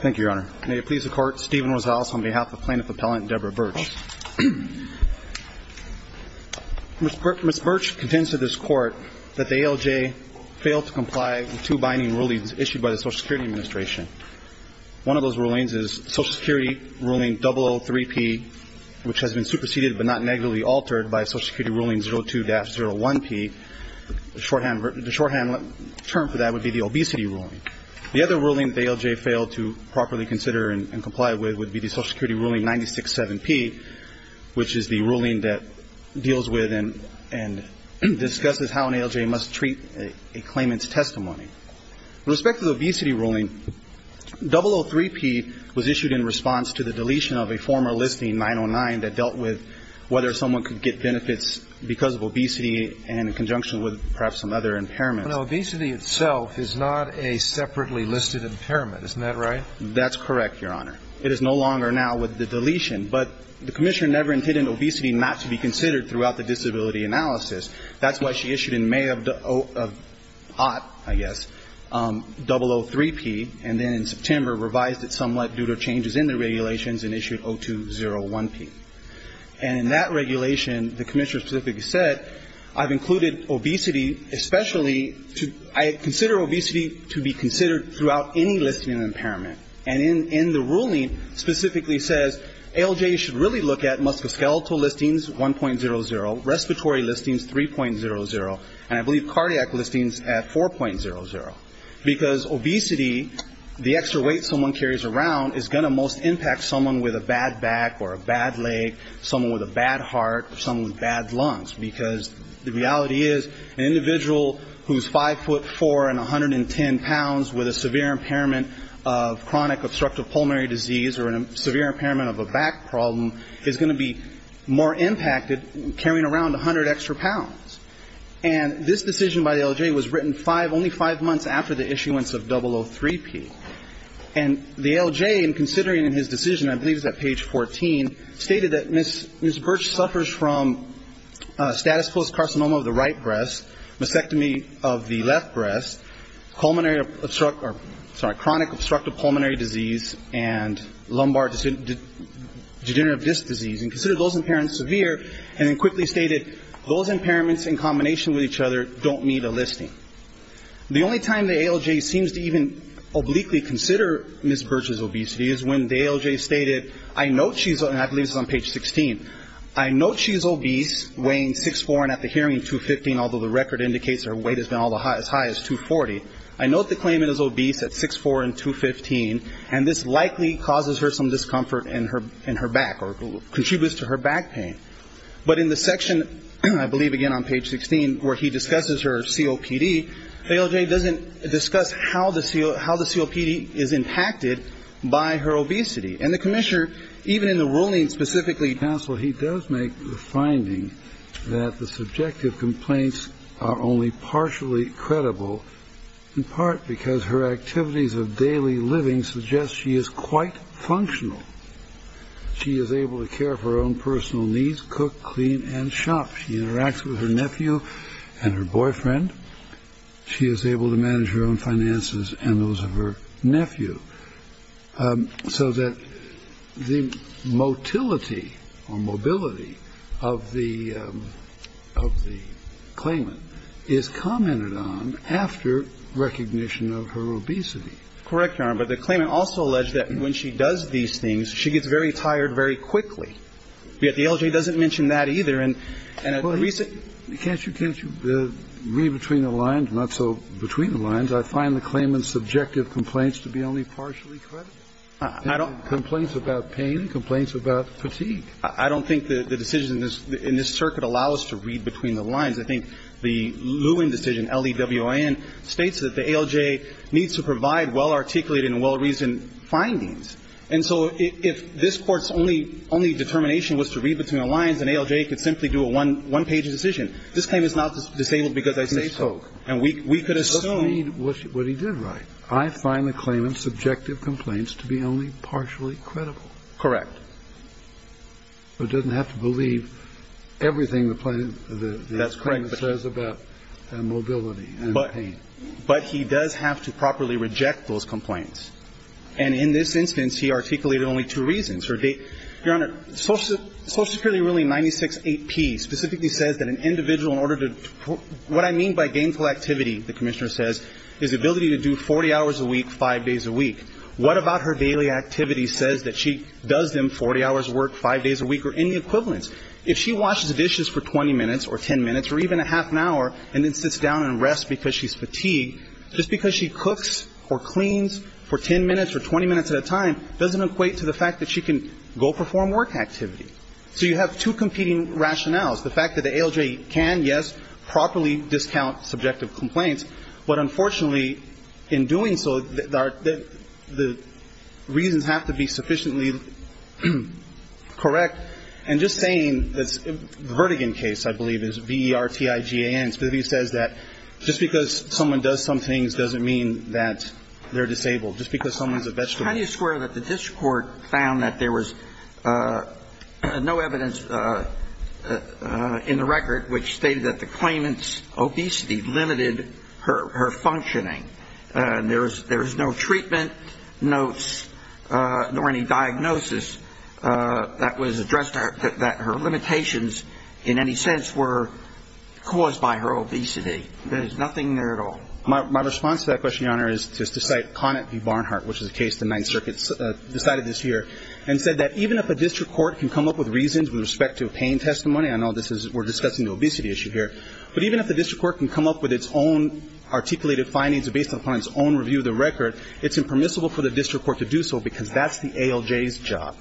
Thank you, Your Honor. May it please the Court, Stephen Rosales on behalf of plaintiff appellant Deborah Birch. Ms. Birch contends to this Court that the ALJ failed to comply with two binding rulings issued by the Social Security Administration. One of those rulings is Social Security ruling 003-P, which has been superseded but not negatively altered by Social Security ruling 02-01-P. The shorthand term for that would be the obesity ruling. The other ruling the ALJ failed to properly consider and comply with would be the Social Security ruling 96-7-P, which is the ruling that deals with and discusses how an ALJ must treat a claimant's testimony. With respect to the obesity ruling, 003-P was issued in response to the deletion of a former listing, 909, that dealt with whether someone could get benefits because of obesity and in conjunction with perhaps some other impairments. But obesity itself is not a separately listed impairment. Isn't that right? That's correct, Your Honor. It is no longer now with the deletion. But the Commissioner never intended obesity not to be considered throughout the disability analysis. That's why she issued in May of the AUT, I guess, 003-P, and then in September revised it somewhat due to changes in the regulations and issued 02-01-P. And in that regulation, the Commissioner specifically said, I've included obesity especially to ‑‑ I consider obesity to be considered throughout any listing of impairment. And in the ruling specifically says, ALJ should really look at musculoskeletal listings, 1.00, respiratory listings, 3.00, and I believe cardiac listings at 4.00. Because obesity, the extra weight someone carries around, is going to most impact someone with a bad back or a bad leg, someone with a bad heart, someone with bad lungs. Because the reality is an individual who's 5'4 and 110 pounds with a severe impairment of chronic obstructive pulmonary disease or a severe impairment of a back problem is going to be more impacted carrying around 100 extra pounds. And this decision by ALJ was written only five months after the issuance of 003-P. And the ALJ, in considering his decision, I believe it's at page 14, stated that Ms. Birch suffers from status post carcinoma of the right breast, mastectomy of the left breast, pulmonary ‑‑ sorry, chronic obstructive pulmonary disease, and lumbar degenerative disc disease. And considered those impairments severe, and then quickly stated, those impairments in combination with each other don't need a listing. The only time the ALJ seems to even obliquely consider Ms. Birch's obesity is when the ALJ stated, I note she's ‑‑ although the record indicates her weight has been as high as 240. I note the claimant is obese at 6'4 and 215, and this likely causes her some discomfort in her back or contributes to her back pain. But in the section, I believe again on page 16, where he discusses her COPD, ALJ doesn't discuss how the COPD is impacted by her obesity. And the commissioner, even in the ruling specifically to counsel, he does make the finding that the subjective complaints are only partially credible, in part because her activities of daily living suggest she is quite functional. She is able to care for her own personal needs, cook, clean, and shop. She interacts with her nephew and her boyfriend. She is able to manage her own finances and those of her nephew. So that the motility or mobility of the claimant is commented on after recognition of her obesity. Correct, Your Honor, but the claimant also alleged that when she does these things, she gets very tired very quickly. Yet the ALJ doesn't mention that either. Can't you read between the lines? Not so between the lines. I find the claimant's subjective complaints to be only partially credible. Complaints about pain, complaints about fatigue. I don't think the decision in this circuit allows us to read between the lines. I think the Lewin decision, L-E-W-I-N, states that the ALJ needs to provide well-articulated and well-reasoned findings. And so if this Court's only determination was to read between the lines, then ALJ could simply do a one-page decision. This claim is not disabled because I say so. And we could assume. It doesn't mean what he did right. I find the claimant's subjective complaints to be only partially credible. Correct. So it doesn't have to believe everything the claimant says about mobility and pain. But he does have to properly reject those complaints. And in this instance, he articulated only two reasons. Your Honor, Social Security ruling 96-8P specifically says that an individual in order to put what I mean by gainful activity, the commissioner says, is the ability to do 40 hours a week, five days a week. What about her daily activity says that she does them 40 hours of work, five days a week, or any equivalence? If she washes dishes for 20 minutes or 10 minutes or even a half an hour and then for 10 minutes or 20 minutes at a time doesn't equate to the fact that she can go perform work activity. So you have two competing rationales. The fact that the ALJ can, yes, properly discount subjective complaints. But unfortunately, in doing so, the reasons have to be sufficiently correct. And just saying that the Vertigan case, I believe, is V-E-R-T-I-G-A-N specifically says that just because someone does some things doesn't mean that they're disabled. Just because someone's a vegetable. Can you square that the district court found that there was no evidence in the record which stated that the claimant's obesity limited her functioning? There was no treatment notes or any diagnosis that was addressed that her limitations in any sense were caused by her obesity. There's nothing there at all. My response to that question, Your Honor, is just to cite Conant v. Barnhart, which is a case the Ninth Circuit decided this year, and said that even if a district court can come up with reasons with respect to pain testimony, I know we're discussing the obesity issue here, but even if the district court can come up with its own articulated findings based upon its own review of the record, it's impermissible for the district court to do so because that's the ALJ's job.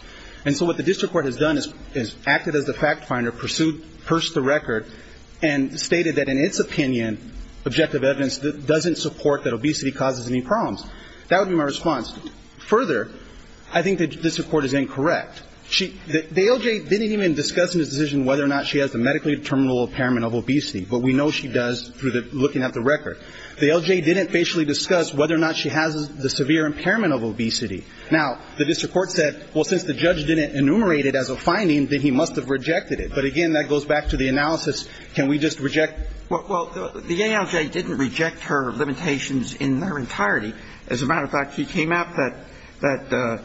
And so what the district court has done is acted as the fact finder, pursued the record, and stated that in its opinion, objective evidence doesn't support that obesity causes any problems. That would be my response. Further, I think the district court is incorrect. The ALJ didn't even discuss in its decision whether or not she has a medically determinable impairment of obesity, but we know she does through looking at the record. The ALJ didn't basically discuss whether or not she has the severe impairment of obesity. Now, the district court said, well, since the judge didn't enumerate it as a finding, then he must have rejected it. But again, that goes back to the analysis. Can we just reject? Well, the ALJ didn't reject her limitations in their entirety. As a matter of fact, he came out that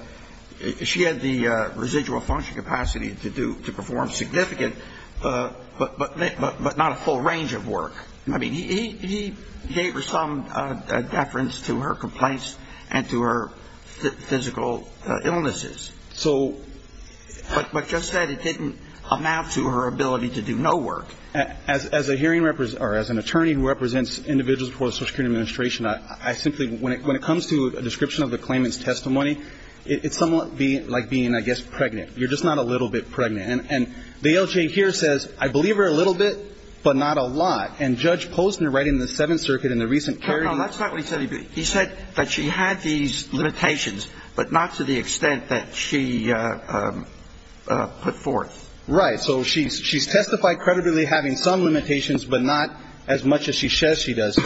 she had the residual function capacity to do to perform significant, but not a full range of work. I mean, he gave her some deference to her complaints and to her physical illnesses. But just that it didn't amount to her ability to do no work. As an attorney who represents individuals before the Social Security Administration, I simply, when it comes to a description of the claimant's testimony, it's somewhat like being, I guess, pregnant. You're just not a little bit pregnant. And the ALJ here says, I believe her a little bit, but not a lot. And Judge Posner, right in the Seventh Circuit in the recent case. No, that's not what he said. He said that she had these limitations, but not to the extent that she put forth. Right. So she's testified credibly having some limitations, but not as much as she says she does.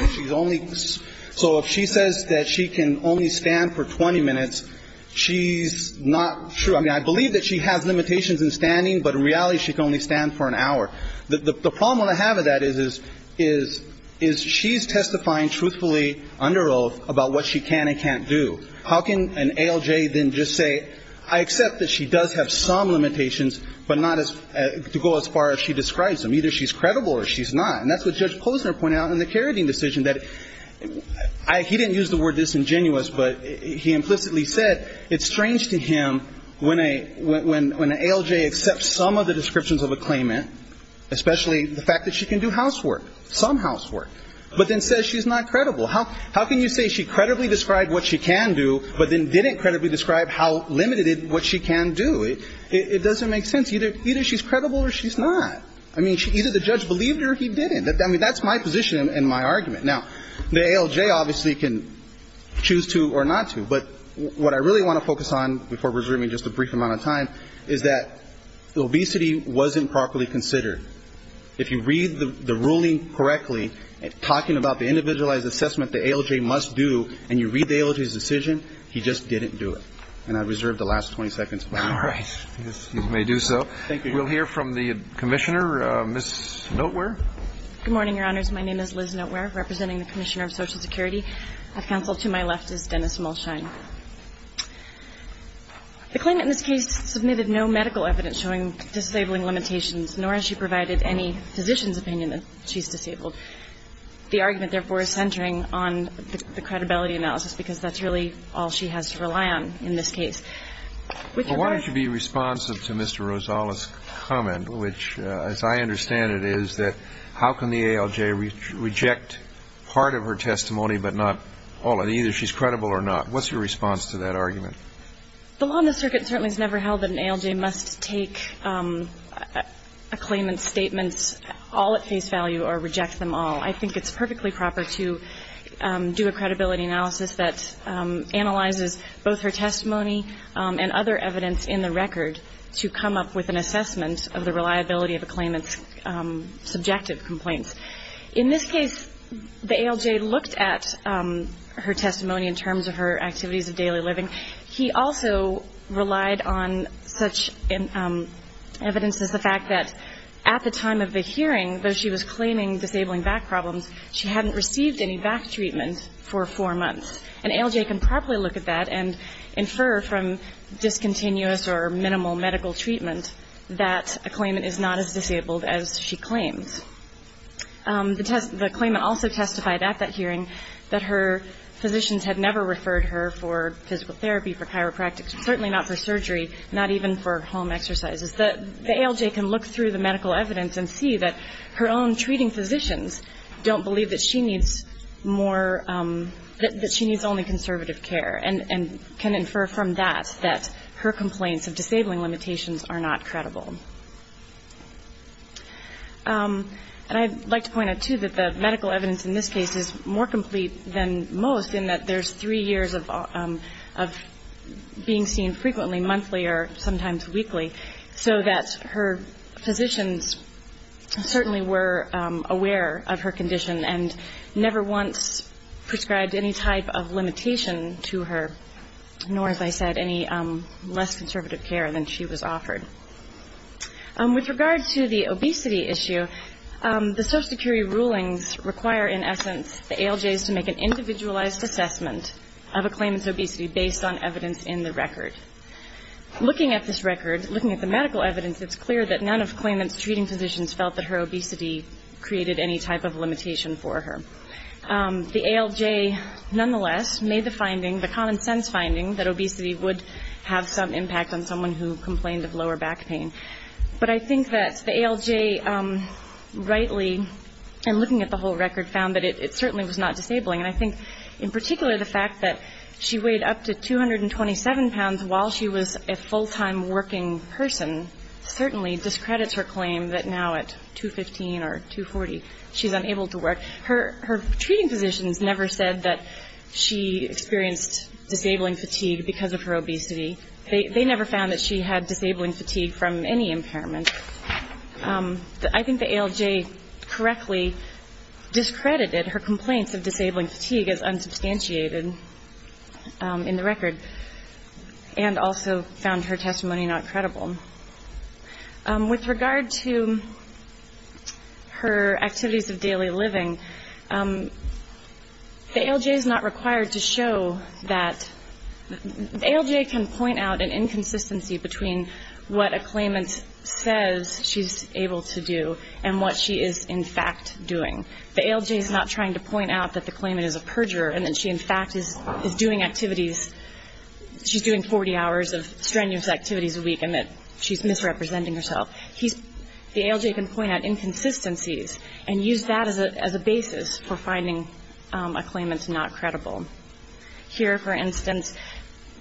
So if she says that she can only stand for 20 minutes, she's not true. I mean, I believe that she has limitations in standing, but in reality, she can only stand for an hour. The problem I have with that is she's testifying truthfully under oath about what she can and can't do. How can an ALJ then just say, I accept that she does have some limitations, but not to go as far as she describes them. Either she's credible or she's not. And that's what Judge Posner pointed out in the Carradine decision, that he didn't use the word disingenuous, but he implicitly said it's strange to him when an ALJ accepts some of the descriptions of a claimant, especially the fact that she can do housework, some housework, but then says she's not credible. How can you say she credibly described what she can do, but then didn't credibly describe how limited what she can do? It doesn't make sense. Either she's credible or she's not. I mean, either the judge believed her or he didn't. I mean, that's my position and my argument. Now, the ALJ obviously can choose to or not to. But what I really want to focus on before resuming just a brief amount of time is that obesity wasn't properly considered. If you read the ruling correctly, talking about the individualized assessment the ALJ must do, and you read the ALJ's decision, he just didn't do it. And I reserve the last 20 seconds. All right. You may do so. Thank you. We'll hear from the Commissioner, Ms. Notewear. Good morning, Your Honors. My name is Liz Notewear, representing the Commissioner of Social Security. At counsel to my left is Dennis Mulshine. The claimant in this case submitted no medical evidence showing disabling limitations, nor has she provided any physician's opinion that she's disabled. The argument, therefore, is centering on the credibility analysis, because that's really all she has to rely on in this case. Which, as I understand it, is that how can the ALJ reject part of her testimony but not all? And either she's credible or not. What's your response to that argument? The law on the circuit certainly has never held that an ALJ must take a claimant's statements all at face value or reject them all. I think it's perfectly proper to do a credibility analysis that analyzes both her testimony and other evidence in the record to come up with an assessment of the reliability of a claimant's subjective complaints. In this case, the ALJ looked at her testimony in terms of her activities of daily living. He also relied on such evidence as the fact that at the time of the hearing, though she was claiming disabling back problems, she hadn't received any back treatment for four months. An ALJ can properly look at that and infer from discontinuous or minimal medical treatment that a claimant is not as disabled as she claims. The claimant also testified at that hearing that her physicians had never referred her for physical therapy, for chiropractic, certainly not for surgery, not even for home exercises. The ALJ can look through the medical evidence and see that her own treating physicians don't believe that she needs more, that she needs only conservative care and can infer from that that her complaints of disabling limitations are not credible. And I'd like to point out, too, that the medical evidence in this case is more complete than most in that there's three years of being seen frequently, monthly or sometimes weekly, so that her physicians certainly were aware of her condition and never once prescribed any type of limitation to her, nor, as I said, any less conservative care than she was offered. With regard to the obesity issue, the Social Security rulings require, in essence, the ALJs to make an individualized assessment of a claimant's obesity based on evidence in the record. Looking at this record, looking at the medical evidence, it's clear that none of claimant's treating physicians felt that her obesity created any type of limitation for her. The ALJ, nonetheless, made the finding, the common sense finding, that obesity would have some impact on someone who complained of lower back pain. But I think that the ALJ rightly, in looking at the whole record, found that it certainly was not disabling. And I think, in particular, the fact that she weighed up to 227 pounds while she was a full-time working person certainly discredits her claim that now at 215 or 240, she's unable to work. Her treating physicians never said that she experienced disabling fatigue because of her obesity. They never found that she had disabling fatigue from any impairment. I think the ALJ correctly discredited her complaints of disabling fatigue as unsubstantiated in the record and also found her testimony not credible. With regard to her activities of daily living, the ALJ is not required to show that the ALJ can point out an inconsistency between what a claimant says she's able to do and what she is, in fact, doing. The ALJ is not trying to point out that the claimant is a perjurer and that she, in fact, is doing activities. She's doing 40 hours of strenuous activities a week and that she's misrepresenting herself. The ALJ can point out inconsistencies and use that as a basis for finding a claimant's not credible. Here, for instance,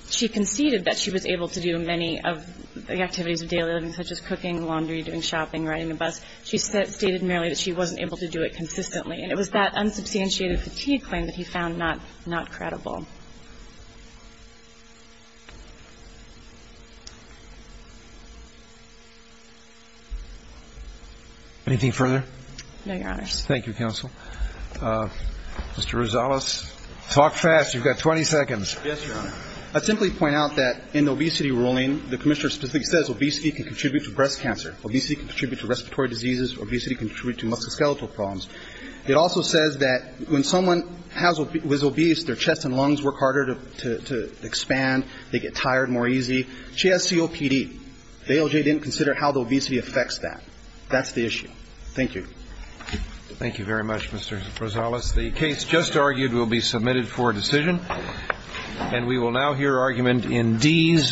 she conceded that she was able to do many of the activities of daily living, such as cooking, laundry, doing shopping, riding the bus. She stated merely that she wasn't able to do it consistently. And it was that unsubstantiated fatigue claim that he found not credible. Anything further? No, Your Honors. Thank you, Counsel. Mr. Rosales, talk fast. You've got 20 seconds. Yes, Your Honor. I'd simply point out that in the obesity ruling, the Commissioner specifically says obesity can contribute to breast cancer. Obesity can contribute to respiratory diseases. Obesity can contribute to musculoskeletal problems. It also says that when someone is obese, their chest and lungs work harder to expand. They get tired more easy. She has COPD. The ALJ didn't consider how the obesity affects that. That's the issue. Thank you. Thank you very much, Mr. Rosales. The case just argued will be submitted for decision. And we will now hear argument in Dease v. Billy.